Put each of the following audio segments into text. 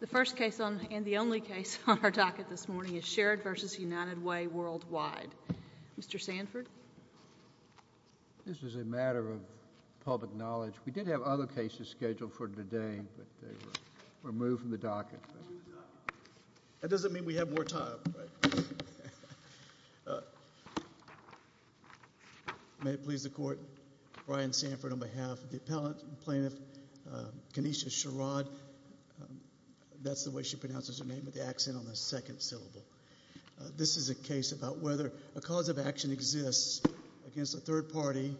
The first case and the only case on our docket this morning is Sherrod v. United Way Worldwide. Mr. Sanford? This is a matter of public knowledge. We did have other cases scheduled for today, but they were removed from the docket. That doesn't mean we have more time. May it please the Court, Brian Sanford on behalf of the appellate plaintiff Coneisha Sherrod. That's the way she pronounces her name, with the accent on the second syllable. This is a case about whether a cause of action exists against a third party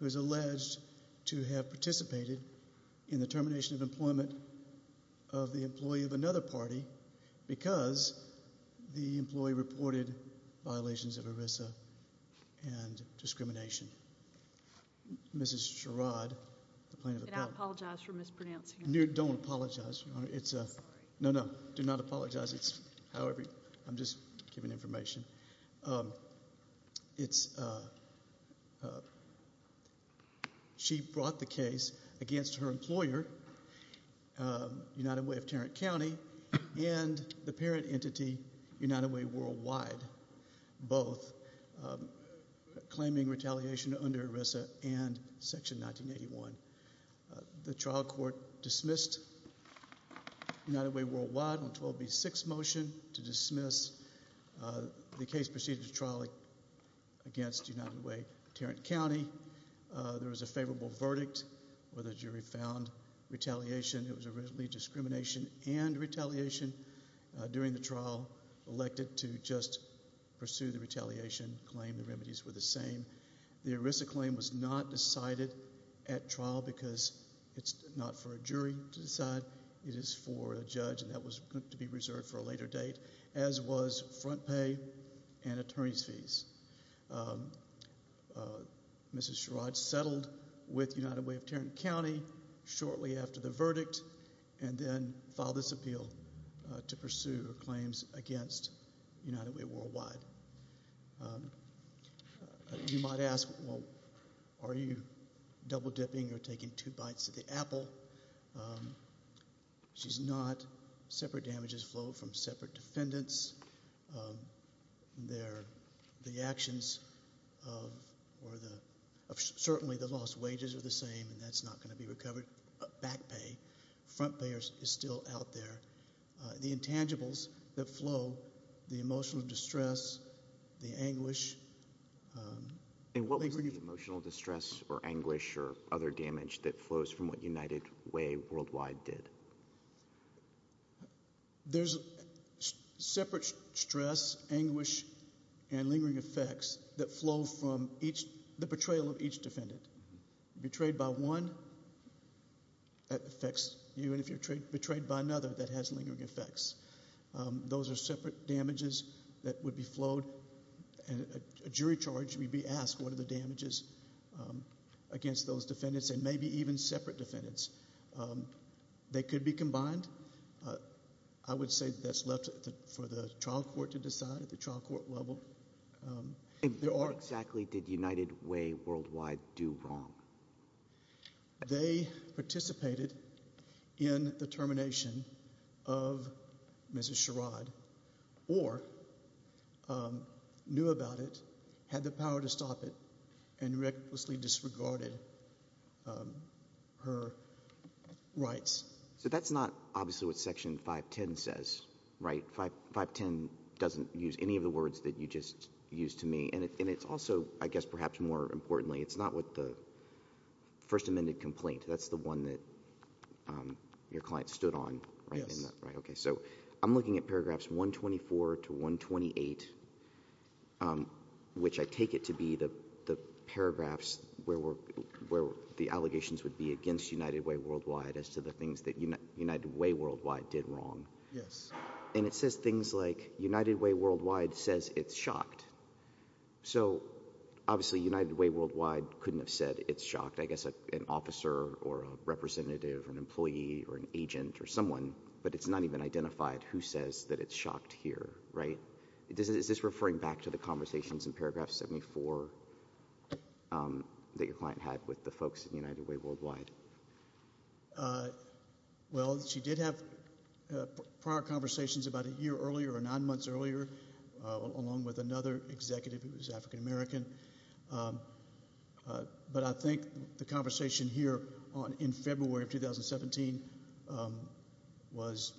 who is alleged to have participated in the termination of employment of the employee of another party because the employee reported violations of ERISA and discrimination. Mrs. Sherrod, the plaintiff appellate. And I apologize for mispronouncing her name. Don't apologize. I'm sorry. No, no. Do not apologize. However, I'm just giving information. She brought the case against her employer, United Way of Tarrant County, and the parent entity United Way Worldwide, both claiming retaliation under ERISA and Section 1981. The trial court dismissed United Way Worldwide on 12B6 motion to dismiss. The case proceeded to trial against United Way of Tarrant County. There was a favorable verdict where the jury found retaliation. It was originally discrimination and retaliation during the trial, elected to just pursue the retaliation claim. The remedies were the same. The ERISA claim was not decided at trial because it's not for a jury to decide. It is for a judge, and that was going to be reserved for a later date, as was front pay and attorney's fees. Mrs. Sherrod settled with United Way of Tarrant County shortly after the verdict and then filed this appeal to pursue her claims against United Way Worldwide. You might ask, well, are you double dipping or taking two bites of the apple? She's not. Separate damages flow from separate defendants. The actions of certainly the lost wages are the same, and that's not going to be recovered, back pay. Front pay is still out there. The intangibles that flow, the emotional distress, the anguish. And what was the emotional distress or anguish or other damage that flows from what United Way Worldwide did? There's separate stress, anguish, and lingering effects that flow from the betrayal of each defendant. Betrayed by one, that affects you, and if you're betrayed by another, that has lingering effects. Those are separate damages that would be flowed, and a jury charge would be asked, what are the damages against those defendants and maybe even separate defendants? They could be combined. I would say that's left for the trial court to decide at the trial court level. Exactly did United Way Worldwide do wrong? They participated in the termination of Mrs. Sherrod or knew about it, had the power to stop it, and recklessly disregarded her rights. So that's not obviously what Section 510 says, right? 510 doesn't use any of the words that you just used to me, and it's also, I guess perhaps more importantly, it's not what the first amended complaint, that's the one that your client stood on, right? Yes. Okay, so I'm looking at paragraphs 124 to 128, which I take it to be the paragraphs where the allegations would be against United Way Worldwide as to the things that United Way Worldwide did wrong. Yes. And it says things like United Way Worldwide says it's shocked. So obviously United Way Worldwide couldn't have said it's shocked. I guess an officer or a representative or an employee or an agent or someone, but it's not even identified who says that it's shocked here, right? Is this referring back to the conversations in paragraph 74 that your client had with the folks at United Way Worldwide? Well, she did have prior conversations about a year earlier or nine months earlier along with another executive who was African American. But I think the conversation here in February of 2017 was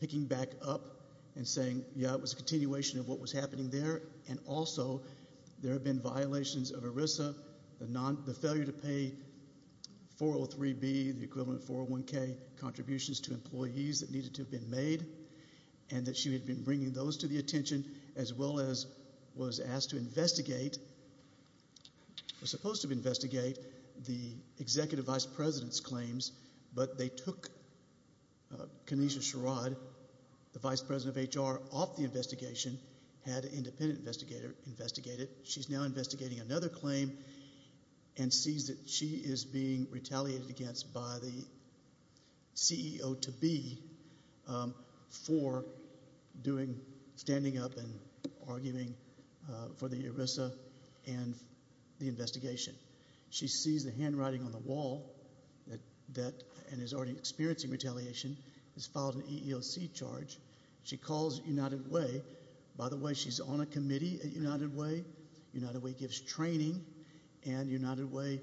picking back up and saying, yeah, it was a continuation of what was happening there, and also there have been violations of ERISA, the failure to pay 403B, the equivalent 401K contributions to employees that needed to have been made, and that she had been bringing those to the attention as well as was asked to investigate, was supposed to investigate the executive vice president's claims, but they took Kinesha Sherrod, the vice president of HR, off the investigation, had an independent investigator investigate it. She's now investigating another claim and sees that she is being retaliated against by the CEO-to-be for standing up and arguing for the ERISA and the investigation. She sees the handwriting on the wall and is already experiencing retaliation, has filed an EEOC charge. She calls United Way. By the way, she's on a committee at United Way. United Way gives training, and United Way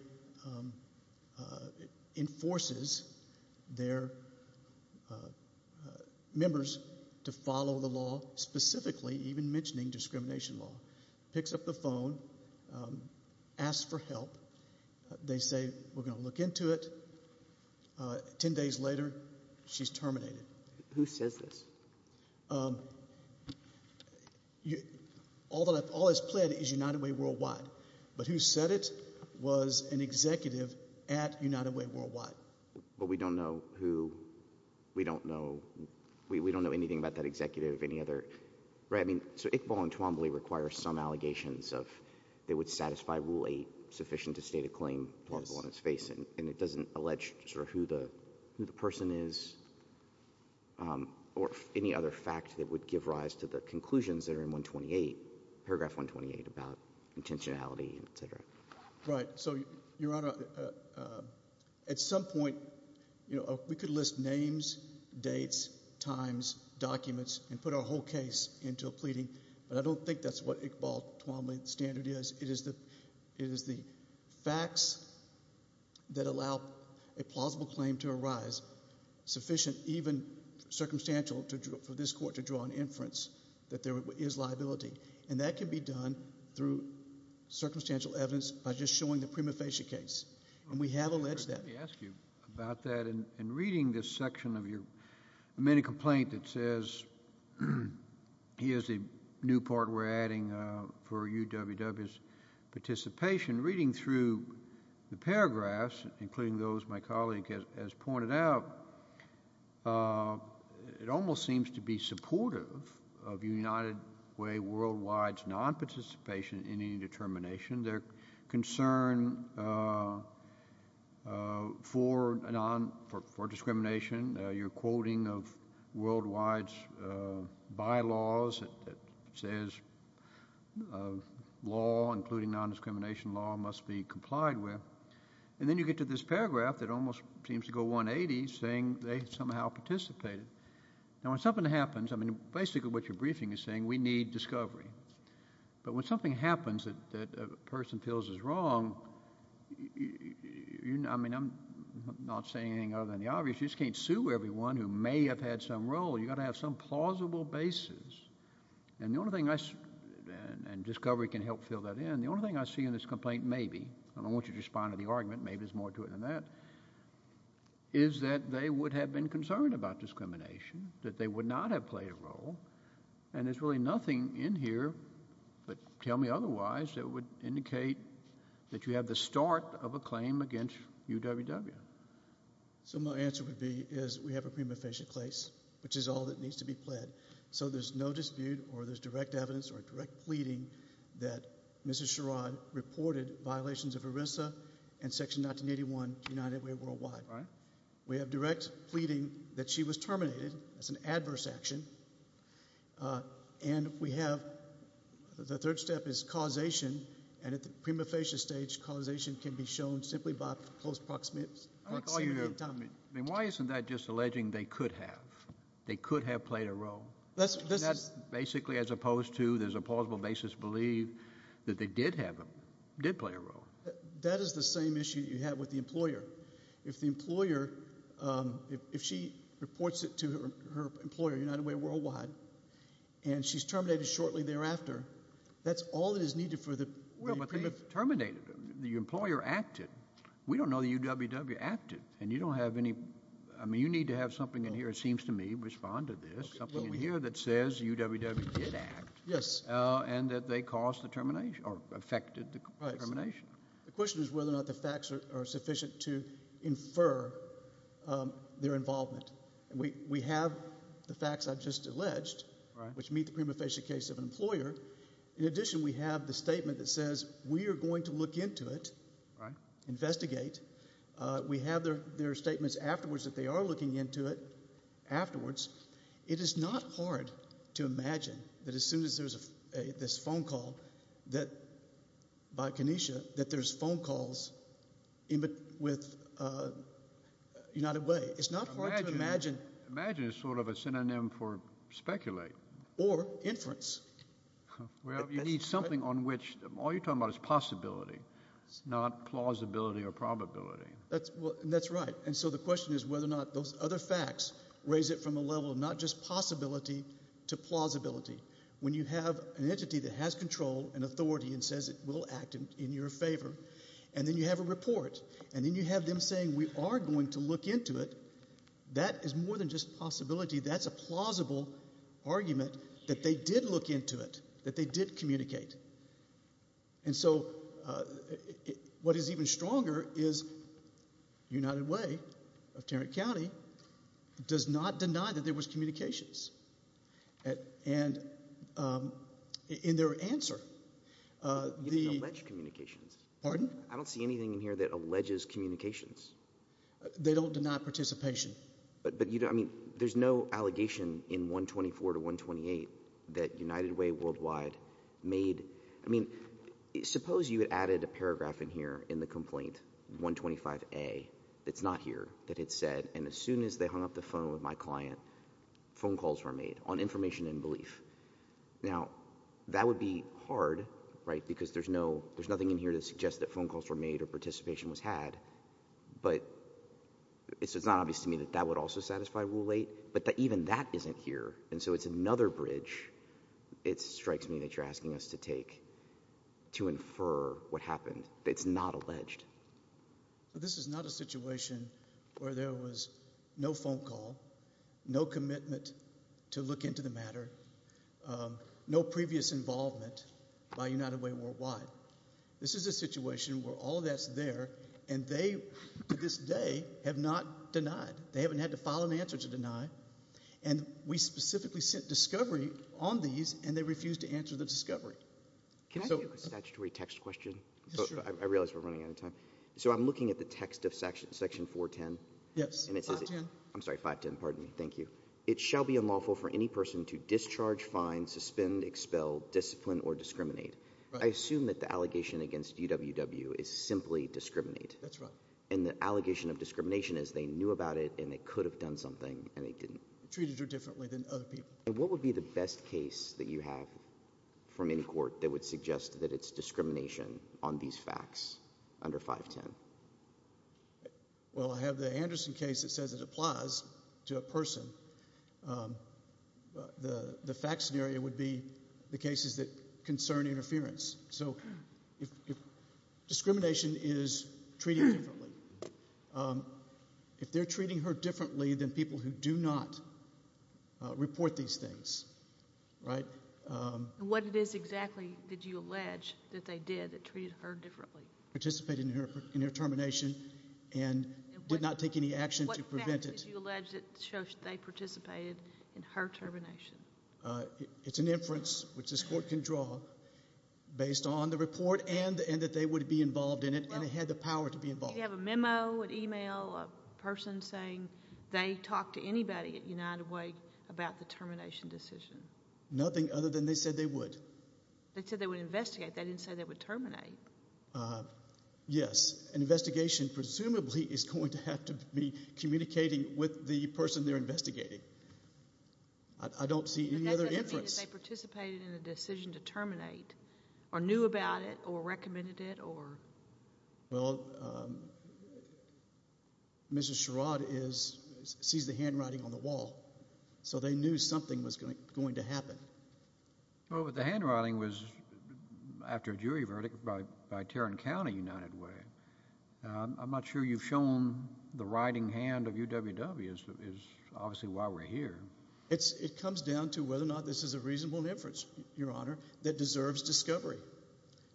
enforces their members to follow the law, specifically even mentioning discrimination law. Picks up the phone, asks for help. They say, we're going to look into it. Ten days later, she's terminated. Who says this? All that is pled is United Way Worldwide. But who said it was an executive at United Way Worldwide. But we don't know who, we don't know, we don't know anything about that executive or any other, right? I mean, so Iqbal and Twombly require some allegations of they would satisfy Rule 8, sufficient to state a claim, and it doesn't allege sort of who the person is or any other fact that would give rise to the conclusions that are in 128, Paragraph 128 about intentionality, et cetera. Right. So, Your Honor, at some point, we could list names, dates, times, documents, and put our whole case into a pleading, but I don't think that's what Iqbal-Twombly standard is. It is the facts that allow a plausible claim to arise, sufficient even circumstantial for this court to draw an inference that there is liability, and that can be done through circumstantial evidence by just showing the prima facie case, and we have alleged that. Let me ask you about that. In reading this section of your mini-complaint that says here's a new part we're adding for UWW's participation, reading through the paragraphs, including those my colleague has pointed out, it almost seems to be supportive of United Way Worldwide's non-participation in any determination. Their concern for discrimination. Your quoting of Worldwide's bylaws that says law, including non-discrimination law, must be complied with. And then you get to this paragraph that almost seems to go 180, saying they somehow participated. Now, when something happens, I mean, basically what your briefing is saying, we need discovery. But when something happens that a person feels is wrong, I mean, I'm not saying anything other than the obvious. You just can't sue everyone who may have had some role. You've got to have some plausible basis, and discovery can help fill that in. The only thing I see in this complaint, maybe, and I don't want you to respond to the argument, maybe there's more to it than that, is that they would have been concerned about discrimination, that they would not have played a role, and there's really nothing in here that, tell me otherwise, that would indicate that you have the start of a claim against UWW. So my answer would be is we have a prima facie case, which is all that needs to be pled. So there's no dispute or there's direct evidence or direct pleading that Mrs. Sherrod reported violations of ERISA and Section 1981 to United Way Worldwide. We have direct pleading that she was terminated. That's an adverse action. And we have the third step is causation, and at the prima facie stage, causation can be shown simply by close proximity. I mean, why isn't that just alleging they could have? They could have played a role. That's basically as opposed to there's a plausible basis to believe that they did have them, did play a role. That is the same issue you have with the employer. If the employer, if she reports it to her employer, United Way Worldwide, and she's terminated shortly thereafter, that's all that is needed for the prima facie. Well, but they terminated them. The employer acted. We don't know that UWW acted, and you don't have any ñ I mean, you need to have something in here, it seems to me, respond to this, something in here that says UWW did act and that they caused the termination or affected the termination. The question is whether or not the facts are sufficient to infer their involvement. We have the facts I've just alleged, which meet the prima facie case of an employer. In addition, we have the statement that says we are going to look into it, investigate. We have their statements afterwards that they are looking into it afterwards. It is not hard to imagine that as soon as there's this phone call by Kenesha that there's phone calls with United Way. It's not hard to imagine. Imagine is sort of a synonym for speculate. Or inference. Well, you need something on which all you're talking about is possibility, not plausibility or probability. That's right. And so the question is whether or not those other facts raise it from a level of not just possibility to plausibility. When you have an entity that has control and authority and says it will act in your favor, and then you have a report, and then you have them saying we are going to look into it, that is more than just possibility. That's a plausible argument that they did look into it, that they did communicate. And so what is even stronger is United Way of Tarrant County does not deny that there was communications. And in their answer, the – You didn't allege communications. Pardon? I don't see anything in here that alleges communications. They don't deny participation. I mean, there's no allegation in 124 to 128 that United Way worldwide made – I mean, suppose you had added a paragraph in here in the complaint, 125A, that's not here, that it said, and as soon as they hung up the phone with my client, phone calls were made on information and belief. Now, that would be hard because there's nothing in here that suggests that phone calls were made or participation was had. But it's not obvious to me that that would also satisfy Rule 8, but even that isn't here, and so it's another bridge, it strikes me, that you're asking us to take to infer what happened. It's not alleged. This is not a situation where there was no phone call, no commitment to look into the matter, no previous involvement by United Way worldwide. This is a situation where all that's there, and they, to this day, have not denied. They haven't had to file an answer to deny, and we specifically sent discovery on these, and they refused to answer the discovery. Can I ask a statutory text question? Sure. I realize we're running out of time. So I'm looking at the text of Section 410. Yes, 510. I'm sorry, 510, pardon me, thank you. It shall be unlawful for any person to discharge, fine, suspend, expel, discipline, or discriminate. I assume that the allegation against UWW is simply discriminate. That's right. And the allegation of discrimination is they knew about it, and they could have done something, and they didn't. Treated her differently than other people. And what would be the best case that you have from any court that would suggest that it's discrimination on these facts under 510? Well, I have the Anderson case that says it applies to a person. The fact scenario would be the cases that concern interference. So discrimination is treating her differently. If they're treating her differently than people who do not report these things, right? And what it is exactly did you allege that they did that treated her differently? Participated in her termination and did not take any action to prevent it. What did you allege that shows they participated in her termination? It's an inference, which this court can draw, based on the report and that they would be involved in it, and it had the power to be involved. Do you have a memo, an e-mail, a person saying they talked to anybody at United Way about the termination decision? Nothing other than they said they would. They said they would investigate. They didn't say they would terminate. Yes. An investigation presumably is going to have to be communicating with the person they're investigating. I don't see any other inference. But that doesn't mean that they participated in a decision to terminate or knew about it or recommended it or? Well, Mrs. Sherrod sees the handwriting on the wall, so they knew something was going to happen. Well, but the handwriting was after a jury verdict by Tarrant County United Way. I'm not sure you've shown the writing hand of UWW is obviously why we're here. It comes down to whether or not this is a reasonable inference, Your Honor, that deserves discovery.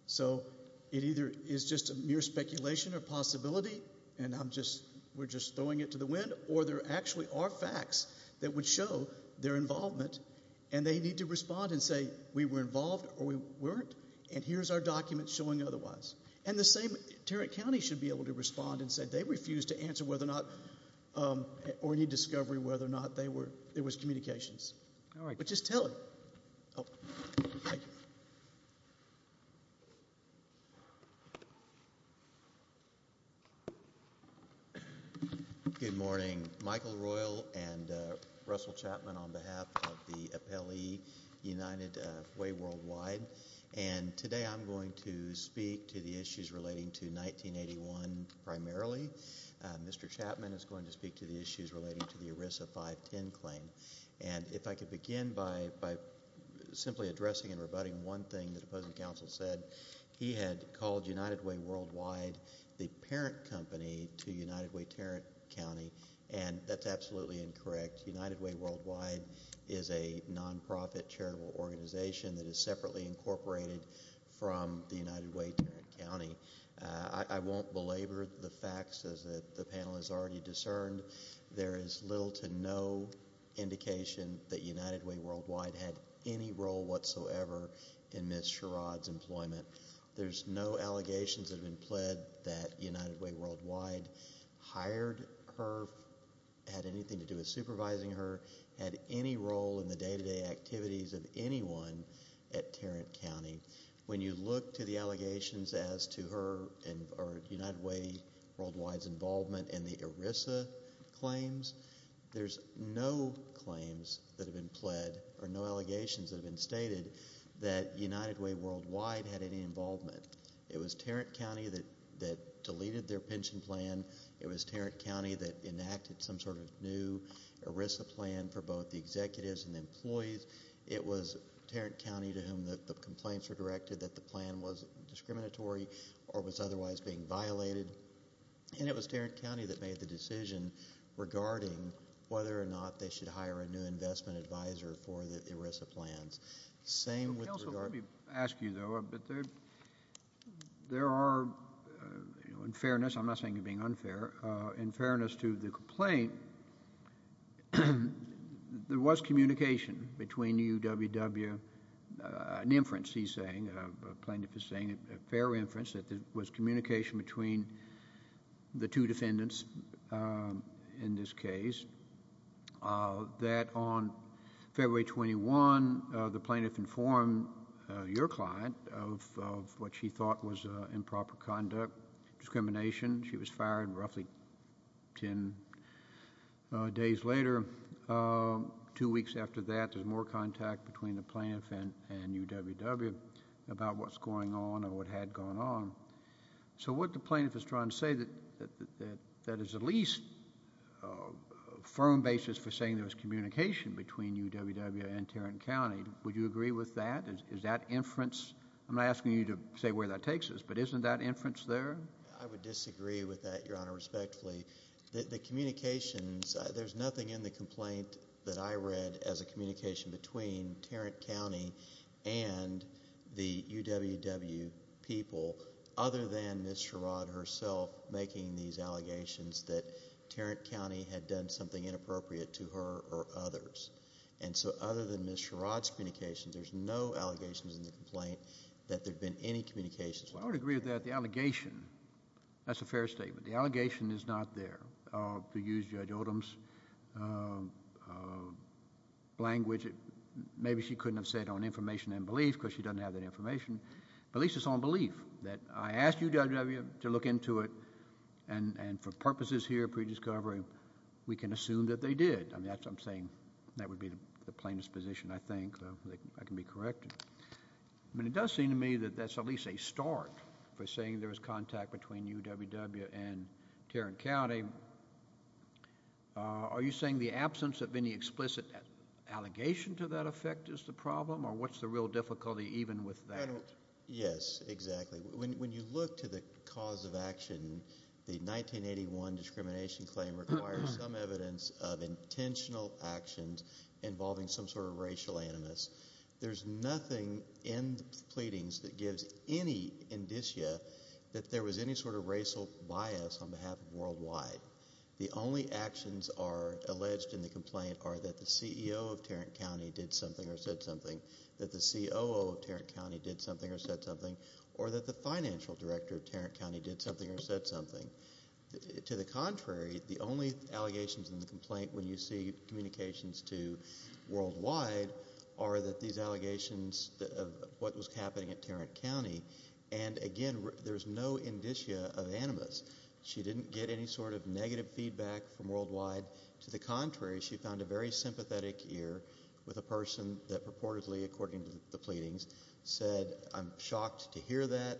So it either is just a mere speculation or possibility, and we're just throwing it to the wind, or there actually are facts that would show their involvement, and they need to respond and say, we were involved or we weren't, and here's our document showing otherwise. And the same Tarrant County should be able to respond and say they refused to answer whether or not or need discovery whether or not there was communications. But just tell it. Thank you. Good morning. Michael Royal and Russell Chapman on behalf of the appellee, United Way Worldwide. And today I'm going to speak to the issues relating to 1981 primarily. Mr. Chapman is going to speak to the issues relating to the ERISA 510 claim. And if I could begin by simply addressing and rebutting one thing the opposing counsel said. He had called United Way Worldwide the parent company to United Way Tarrant County, and that's absolutely incorrect. United Way Worldwide is a nonprofit charitable organization that is separately incorporated from the United Way Tarrant County. I won't belabor the facts as the panel has already discerned. There is little to no indication that United Way Worldwide had any role whatsoever in Ms. Sherrod's employment. There's no allegations that have been pled that United Way Worldwide hired her, had anything to do with supervising her, had any role in the day-to-day activities of anyone at Tarrant County. When you look to the allegations as to her or United Way Worldwide's involvement in the ERISA claims, there's no claims that have been pled or no allegations that have been stated that United Way Worldwide had any involvement. It was Tarrant County that deleted their pension plan. It was Tarrant County that enacted some sort of new ERISA plan for both the executives and the employees. It was Tarrant County to whom the complaints were directed that the plan was discriminatory or was otherwise being violated. And it was Tarrant County that made the decision regarding whether or not they should hire a new investment advisor for the ERISA plans. Counsel, let me ask you though, but there are, in fairness, I'm not saying you're being unfair, in fairness to the complaint, there was communication between UWW, an inference he's saying, a plaintiff is saying, a fair inference that there was communication between the two defendants in this case, that on February 21, the plaintiff informed your client of what she thought was improper conduct, discrimination. She was fired roughly 10 days later. Two weeks after that, there's more contact between the plaintiff and UWW about what's going on or what had gone on. So what the plaintiff is trying to say, that is at least a firm basis for saying there was communication between UWW and Tarrant County. Would you agree with that? Is that inference, I'm not asking you to say where that takes us, but isn't that inference there? I would disagree with that, Your Honor, respectfully. The communications, there's nothing in the complaint that I read as a communication between Tarrant County and the UWW people other than Ms. Sherrod herself making these allegations that Tarrant County had done something inappropriate to her or others. And so other than Ms. Sherrod's communications, there's no allegations in the complaint that there's been any communications. Well, I would agree with that. The allegation, that's a fair statement. The allegation is not there. To use Judge Odom's language, maybe she couldn't have said on information and belief because she doesn't have that information. But at least it's on belief that I asked UWW to look into it, and for purposes here of pre-discovery, we can assume that they did. I'm saying that would be the plaintiff's position, I think. I can be corrected. But it does seem to me that that's at least a start for saying there was contact between UWW and Tarrant County. Are you saying the absence of any explicit allegation to that effect is the problem, or what's the real difficulty even with that? Yes, exactly. When you look to the cause of action, the 1981 discrimination claim requires some evidence of intentional actions involving some sort of racial animus. There's nothing in the pleadings that gives any indicia that there was any sort of racial bias on behalf of Worldwide. The only actions are alleged in the complaint are that the CEO of Tarrant County did something or said something, that the COO of Tarrant County did something or said something, or that the financial director of Tarrant County did something or said something. To the contrary, the only allegations in the complaint when you see communications to Worldwide are that these allegations of what was happening at Tarrant County, and again, there's no indicia of animus. She didn't get any sort of negative feedback from Worldwide. To the contrary, she found a very sympathetic ear with a person that purportedly, according to the pleadings, said, I'm shocked to hear that.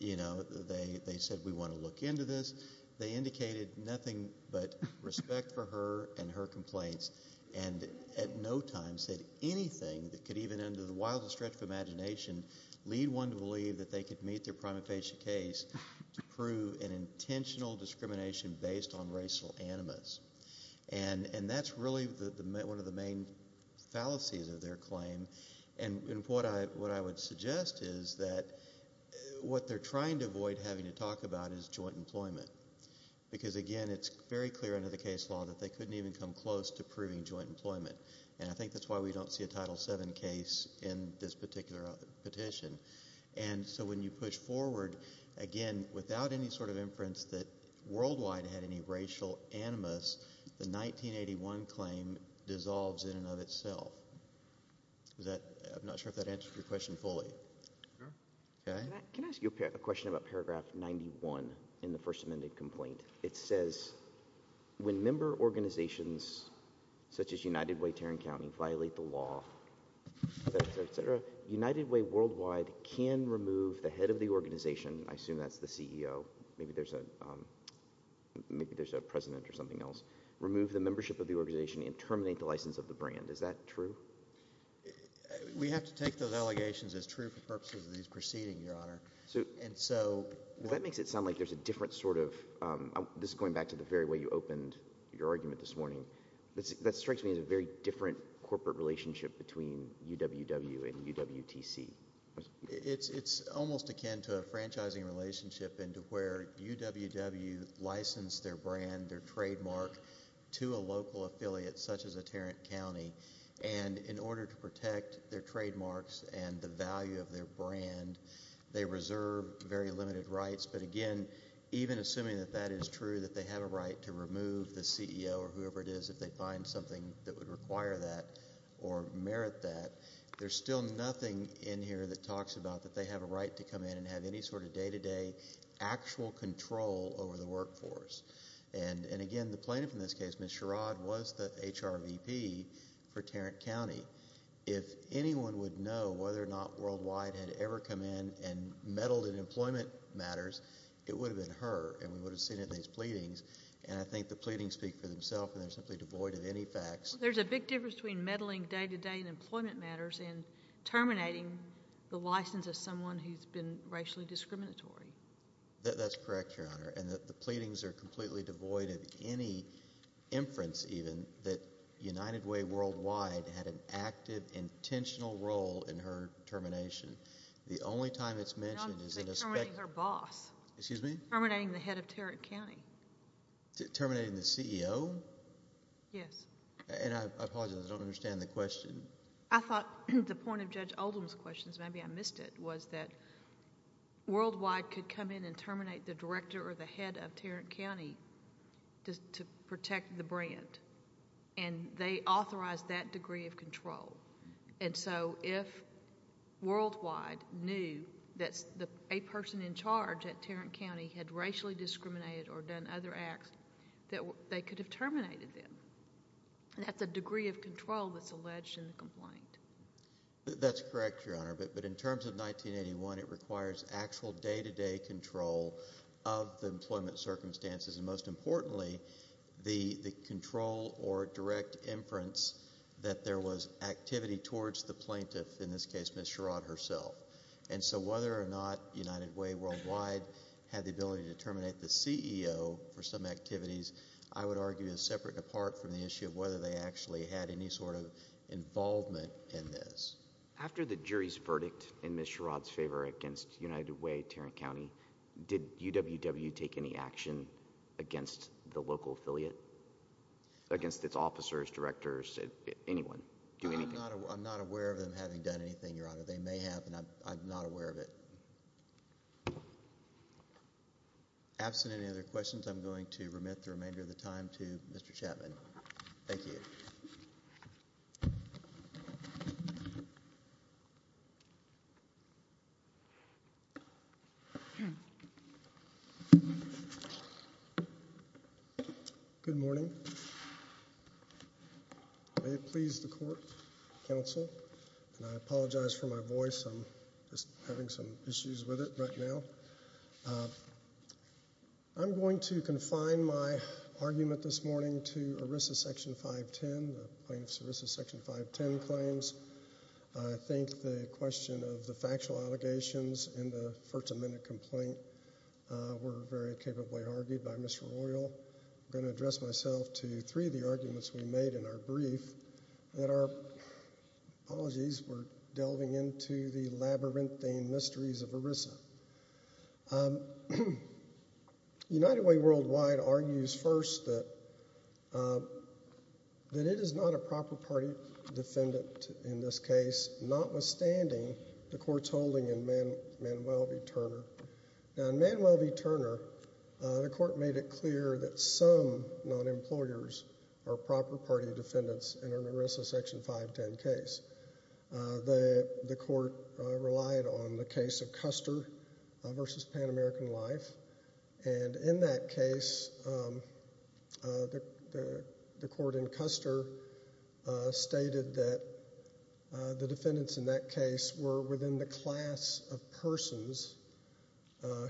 They said we want to look into this. They indicated nothing but respect for her and her complaints, and at no time said anything that could even, under the wildest stretch of imagination, lead one to believe that they could meet their prima facie case to prove an intentional discrimination based on racial animus. That's really one of the main fallacies of their claim. What I would suggest is that what they're trying to avoid having to talk about is joint employment, because again, it's very clear under the case law that they couldn't even come close to proving joint employment. I think that's why we don't see a Title VII case in this particular petition. When you push forward, again, without any sort of inference that Worldwide had any racial animus, the 1981 claim dissolves in and of itself. I'm not sure if that answers your question fully. Can I ask you a question about paragraph 91 in the First Amendment complaint? It says, when member organizations such as United Way, Tarrant County, violate the law, United Way Worldwide can remove the head of the organization. I assume that's the CEO. Maybe there's a president or something else. Remove the membership of the organization and terminate the license of the brand. Is that true? We have to take those allegations as true for purposes of these proceedings, Your Honor. That makes it sound like there's a different sort of – this is going back to the very way you opened your argument this morning. That strikes me as a very different corporate relationship between UWW and UWTC. It's almost akin to a franchising relationship into where UWW licensed their brand, their trademark, to a local affiliate such as a Tarrant County. And in order to protect their trademarks and the value of their brand, they reserve very limited rights. But again, even assuming that that is true, that they have a right to remove the CEO or whoever it is, if they find something that would require that or merit that, there's still nothing in here that talks about that they have a right to come in and have any sort of day-to-day actual control over the workforce. And again, the plaintiff in this case, Ms. Sherrod, was the HRVP for Tarrant County. If anyone would know whether or not Worldwide had ever come in and meddled in employment matters, it would have been her, and we would have seen it in these pleadings. And I think the pleadings speak for themselves, and they're simply devoid of any facts. There's a big difference between meddling day-to-day in employment matters and terminating the license of someone who's been racially discriminatory. That's correct, Your Honor. And the pleadings are completely devoid of any inference, even, that United Way Worldwide had an active, intentional role in her termination. The only time it's mentioned is in a speculation. Terminating her boss. Excuse me? Terminating the head of Tarrant County. Terminating the CEO? Yes. And I apologize, I don't understand the question. I thought the point of Judge Oldham's questions, maybe I missed it, was that Worldwide could come in and terminate the director or the head of Tarrant County to protect the brand, and they authorized that degree of control. And so if Worldwide knew that a person in charge at Tarrant County had racially discriminated or done other acts, they could have terminated them. That's a degree of control that's alleged in the complaint. That's correct, Your Honor. But in terms of 1981, it requires actual day-to-day control of the employment circumstances, and most importantly, the control or direct inference that there was activity towards the plaintiff, in this case, Ms. Sherrod herself. And so whether or not United Way Worldwide had the ability to terminate the CEO for some activities, I would argue is separate and apart from the issue of whether they actually had any sort of involvement in this. After the jury's verdict in Ms. Sherrod's favor against United Way Tarrant County, did UWW take any action against the local affiliate, against its officers, directors, anyone? I'm not aware of them having done anything, Your Honor. They may have, and I'm not aware of it. Absent any other questions, I'm going to remit the remainder of the time to Mr. Chapman. Thank you. Good morning. May it please the court, counsel, and I apologize for my voice. I'm just having some issues with it right now. I'm going to confine my argument this morning to ERISA Section 510, the plaintiff's ERISA Section 510 claims. I think the question of the factual allegations in the first amendment complaint were very capably argued by Mr. Royal. I'm going to address myself to three of the arguments we made in our brief. Apologies, we're delving into the labyrinthine mysteries of ERISA. United Way worldwide argues first that it is not a proper party defendant in this case, notwithstanding the court's holding in Manuel v. Turner. In Manuel v. Turner, the court made it clear that some non-employers are proper party defendants in an ERISA Section 510 case. The court relied on the case of Custer v. Pan American Life. In that case, the court in Custer stated that the defendants in that case were within the class of persons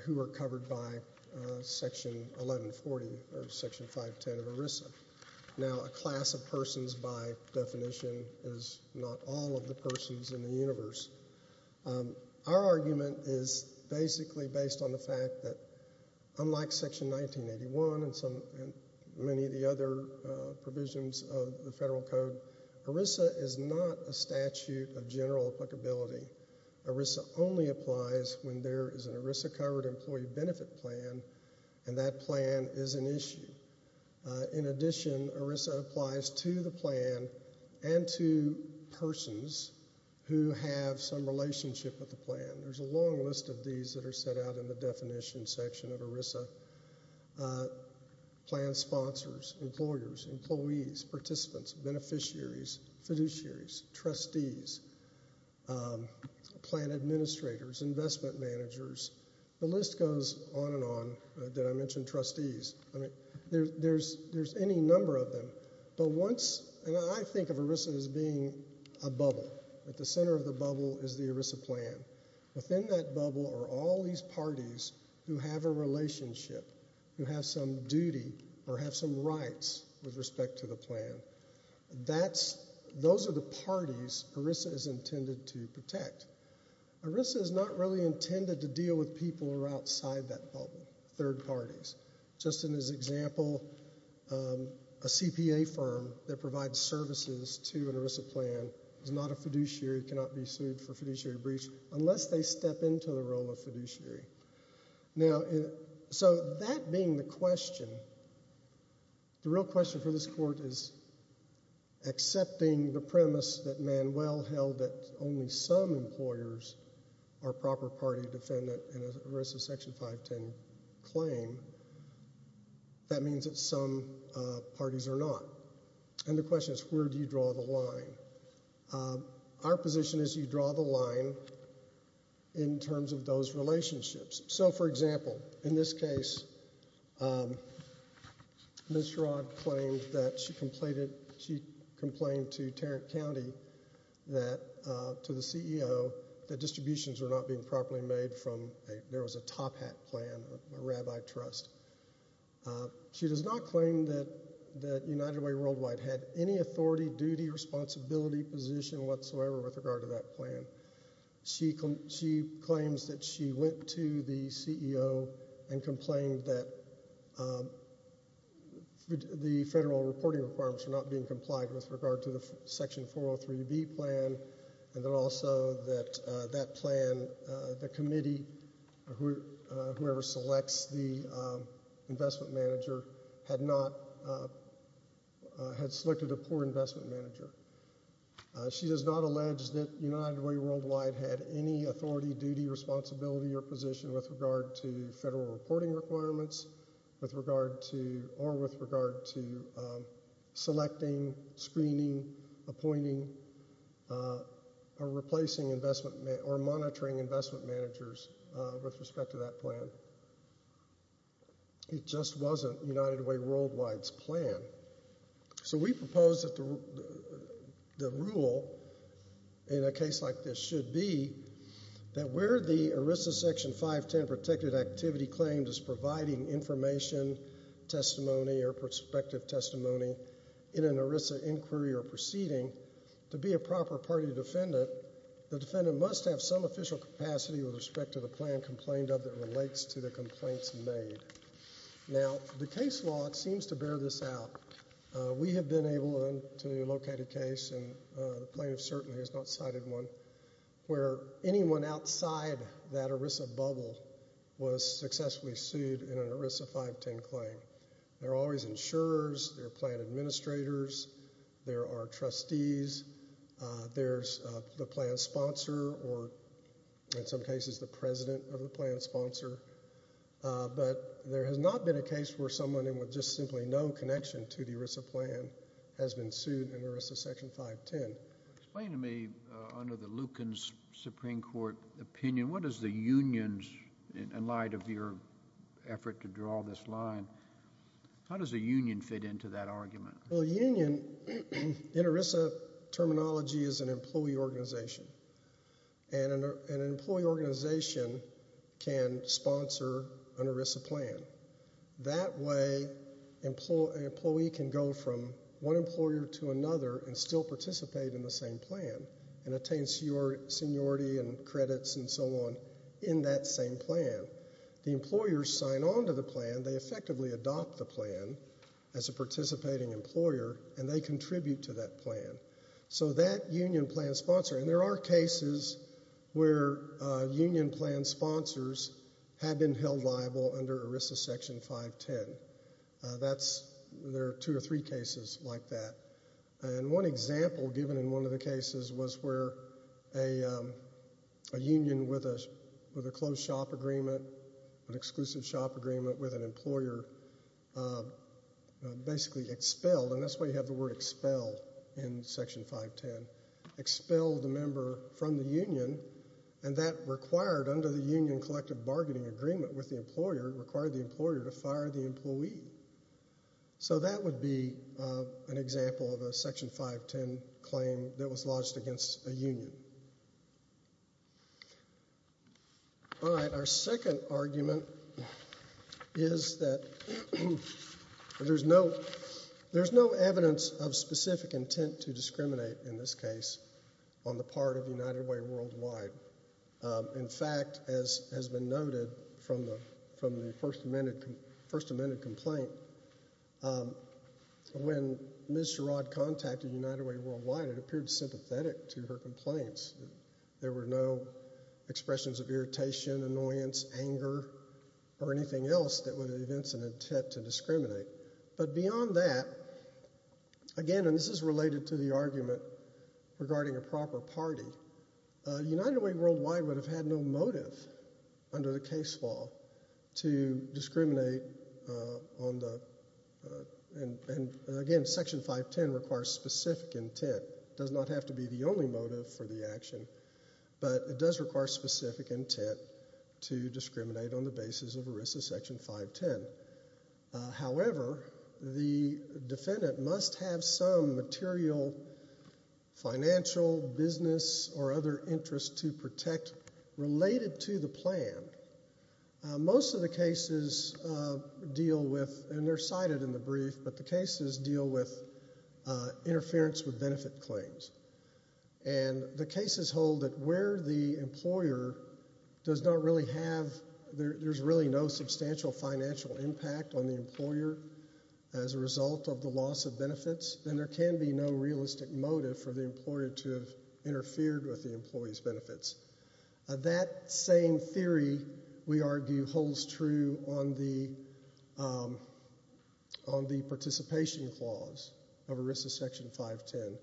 who were covered by Section 1140 or Section 510 of ERISA. Now, a class of persons, by definition, is not all of the persons in the universe. Our argument is basically based on the fact that unlike Section 1981 and many of the other provisions of the federal code, ERISA is not a statute of general applicability. ERISA only applies when there is an ERISA covered employee benefit plan and that plan is an issue. In addition, ERISA applies to the plan and to persons who have some relationship with the plan. There's a long list of these that are set out in the definition section of ERISA. Plan sponsors, employers, employees, participants, beneficiaries, fiduciaries, trustees, plan administrators, investment managers, the list goes on and on. Did I mention trustees? I mean, there's any number of them. But once – and I think of ERISA as being a bubble. At the center of the bubble is the ERISA plan. Within that bubble are all these parties who have a relationship, who have some duty or have some rights with respect to the plan. ERISA is not really intended to deal with people who are outside that bubble, third parties. Just in this example, a CPA firm that provides services to an ERISA plan is not a fiduciary, cannot be sued for fiduciary breach unless they step into the role of fiduciary. Now, so that being the question, the real question for this court is accepting the premise that Manuel held that only some employers are proper party defendant in an ERISA Section 510 claim. That means that some parties are not. And the question is where do you draw the line? Our position is you draw the line in terms of those relationships. So, for example, in this case, Ms. Sherrod claimed that she complained to Tarrant County, to the CEO, that distributions were not being properly made from – there was a top hat plan, a rabbi trust. She does not claim that United Way Worldwide had any authority, duty, responsibility, position whatsoever with regard to that plan. She claims that she went to the CEO and complained that the federal reporting requirements were not being complied with with regard to the Section 403B plan. And then also that that plan, the committee, whoever selects the investment manager, had not – had selected a poor investment manager. She does not allege that United Way Worldwide had any authority, duty, responsibility, or position with regard to federal reporting requirements with regard to – or with regard to selecting, screening, appointing, or replacing investment – or monitoring investment managers with respect to that plan. It just wasn't United Way Worldwide's plan. So we propose that the rule in a case like this should be that where the ERISA Section 510 protected activity claims is providing information, testimony, or prospective testimony in an ERISA inquiry or proceeding, to be a proper party defendant, the defendant must have some official capacity with respect to the plan complained of that relates to the complaints made. Now, the case law seems to bear this out. We have been able to locate a case, and the plaintiff certainly has not cited one, where anyone outside that ERISA bubble was successfully sued in an ERISA 510 claim. There are always insurers, there are plan administrators, there are trustees, there's the plan sponsor, or in some cases the president of the plan sponsor. But there has not been a case where someone with just simply no connection to the ERISA plan has been sued in an ERISA Section 510. Explain to me, under the Lucan Supreme Court opinion, what is the union in light of your effort to draw this line? How does a union fit into that argument? Well, a union, in ERISA terminology, is an employee organization. And an employee organization can sponsor an ERISA plan. That way, an employee can go from one employer to another and still participate in the same plan and attain seniority and credits and so on in that same plan. The employers sign on to the plan, they effectively adopt the plan as a participating employer, and they contribute to that plan. So that union plan sponsor, and there are cases where union plan sponsors have been held liable under ERISA Section 510. There are two or three cases like that. And one example given in one of the cases was where a union with a closed shop agreement, an exclusive shop agreement with an employer, basically expelled. And that's why you have the word expel in Section 510. Expelled a member from the union, and that required, under the union collective bargaining agreement with the employer, required the employer to fire the employee. So that would be an example of a Section 510 claim that was lodged against a union. All right, our second argument is that there's no evidence of specific intent to discriminate in this case on the part of United Way Worldwide. In fact, as has been noted from the First Amendment complaint, when Ms. Sherrod contacted United Way Worldwide, it appeared sympathetic to her complaints. There were no expressions of irritation, annoyance, anger, or anything else that would evince an intent to discriminate. But beyond that, again, and this is related to the argument regarding a proper party, United Way Worldwide would have had no motive under the case law to discriminate on the – and again, Section 510 requires specific intent. It does not have to be the only motive for the action, but it does require specific intent to discriminate on the basis of ERISA Section 510. However, the defendant must have some material financial, business, or other interest to protect related to the plan. Most of the cases deal with – and they're cited in the brief – but the cases deal with interference with benefit claims. And the cases hold that where the employer does not really have – there's really no substantial financial impact on the employer as a result of the loss of benefits, then there can be no realistic motive for the employer to have interfered with the employee's benefits. That same theory, we argue, holds true on the participation clause of ERISA Section 510,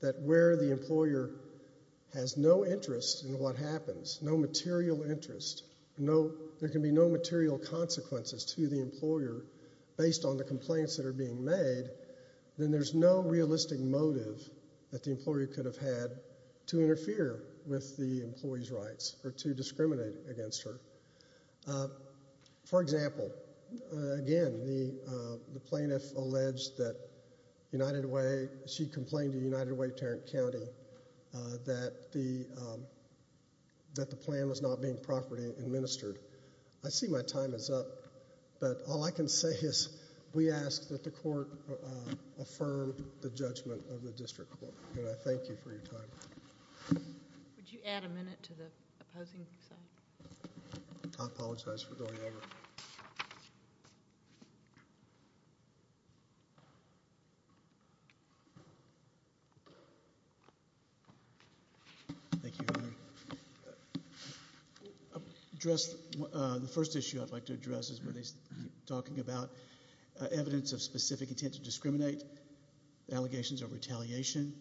that where the employer has no interest in what happens, no material interest, there can be no material consequences to the employer based on the complaints that are being made, then there's no realistic motive that the employer could have had to interfere with the employee's rights or to discriminate against her. For example, again, the plaintiff alleged that United Way – she complained to United Way Tarrant County that the plan was not being properly administered. I see my time is up, but all I can say is we ask that the court affirm the judgment of the district court, and I thank you for your time. Would you add a minute to the opposing side? I apologize for going over. Thank you. The first issue I'd like to address is where they're talking about evidence of specific intent to discriminate, allegations of retaliation.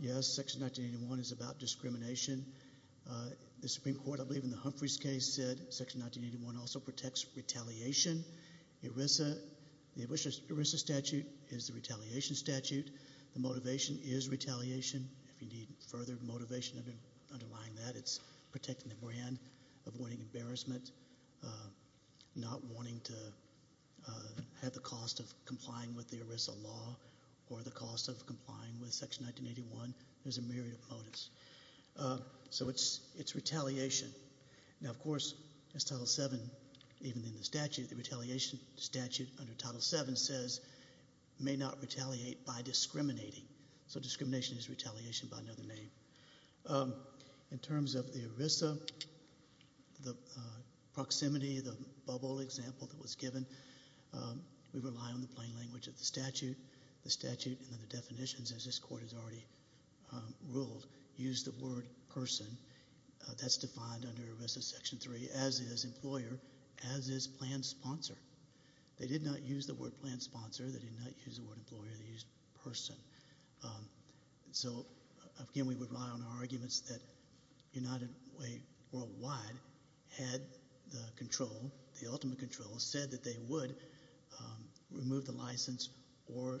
Yes, Section 1981 is about discrimination. The Supreme Court, I believe in the Humphreys case, said Section 1981 also protects retaliation. ERISA – the ERISA statute is the retaliation statute. The motivation is retaliation. If you need further motivation underlying that, it's protecting the brand, avoiding embarrassment, not wanting to have the cost of complying with the ERISA law or the cost of complying with Section 1981. There's a myriad of motives. So it's retaliation. Now, of course, as Title VII, even in the statute, the retaliation statute under Title VII says may not retaliate by discriminating. So discrimination is retaliation by another name. In terms of the ERISA, the proximity, the bubble example that was given, we rely on the plain language of the statute. The statute and the definitions, as this Court has already ruled, use the word person. That's defined under ERISA Section III as is employer, as is planned sponsor. They did not use the word planned sponsor. They did not use the word employer. They used person. So, again, we would rely on our arguments that United Way Worldwide had the control, the ultimate control, said that they would remove the license or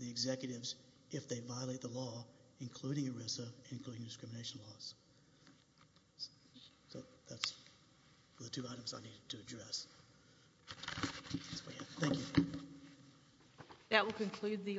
the executives if they violate the law, including ERISA, including discrimination laws. So that's the two items I needed to address. Thank you. That will conclude the arguments.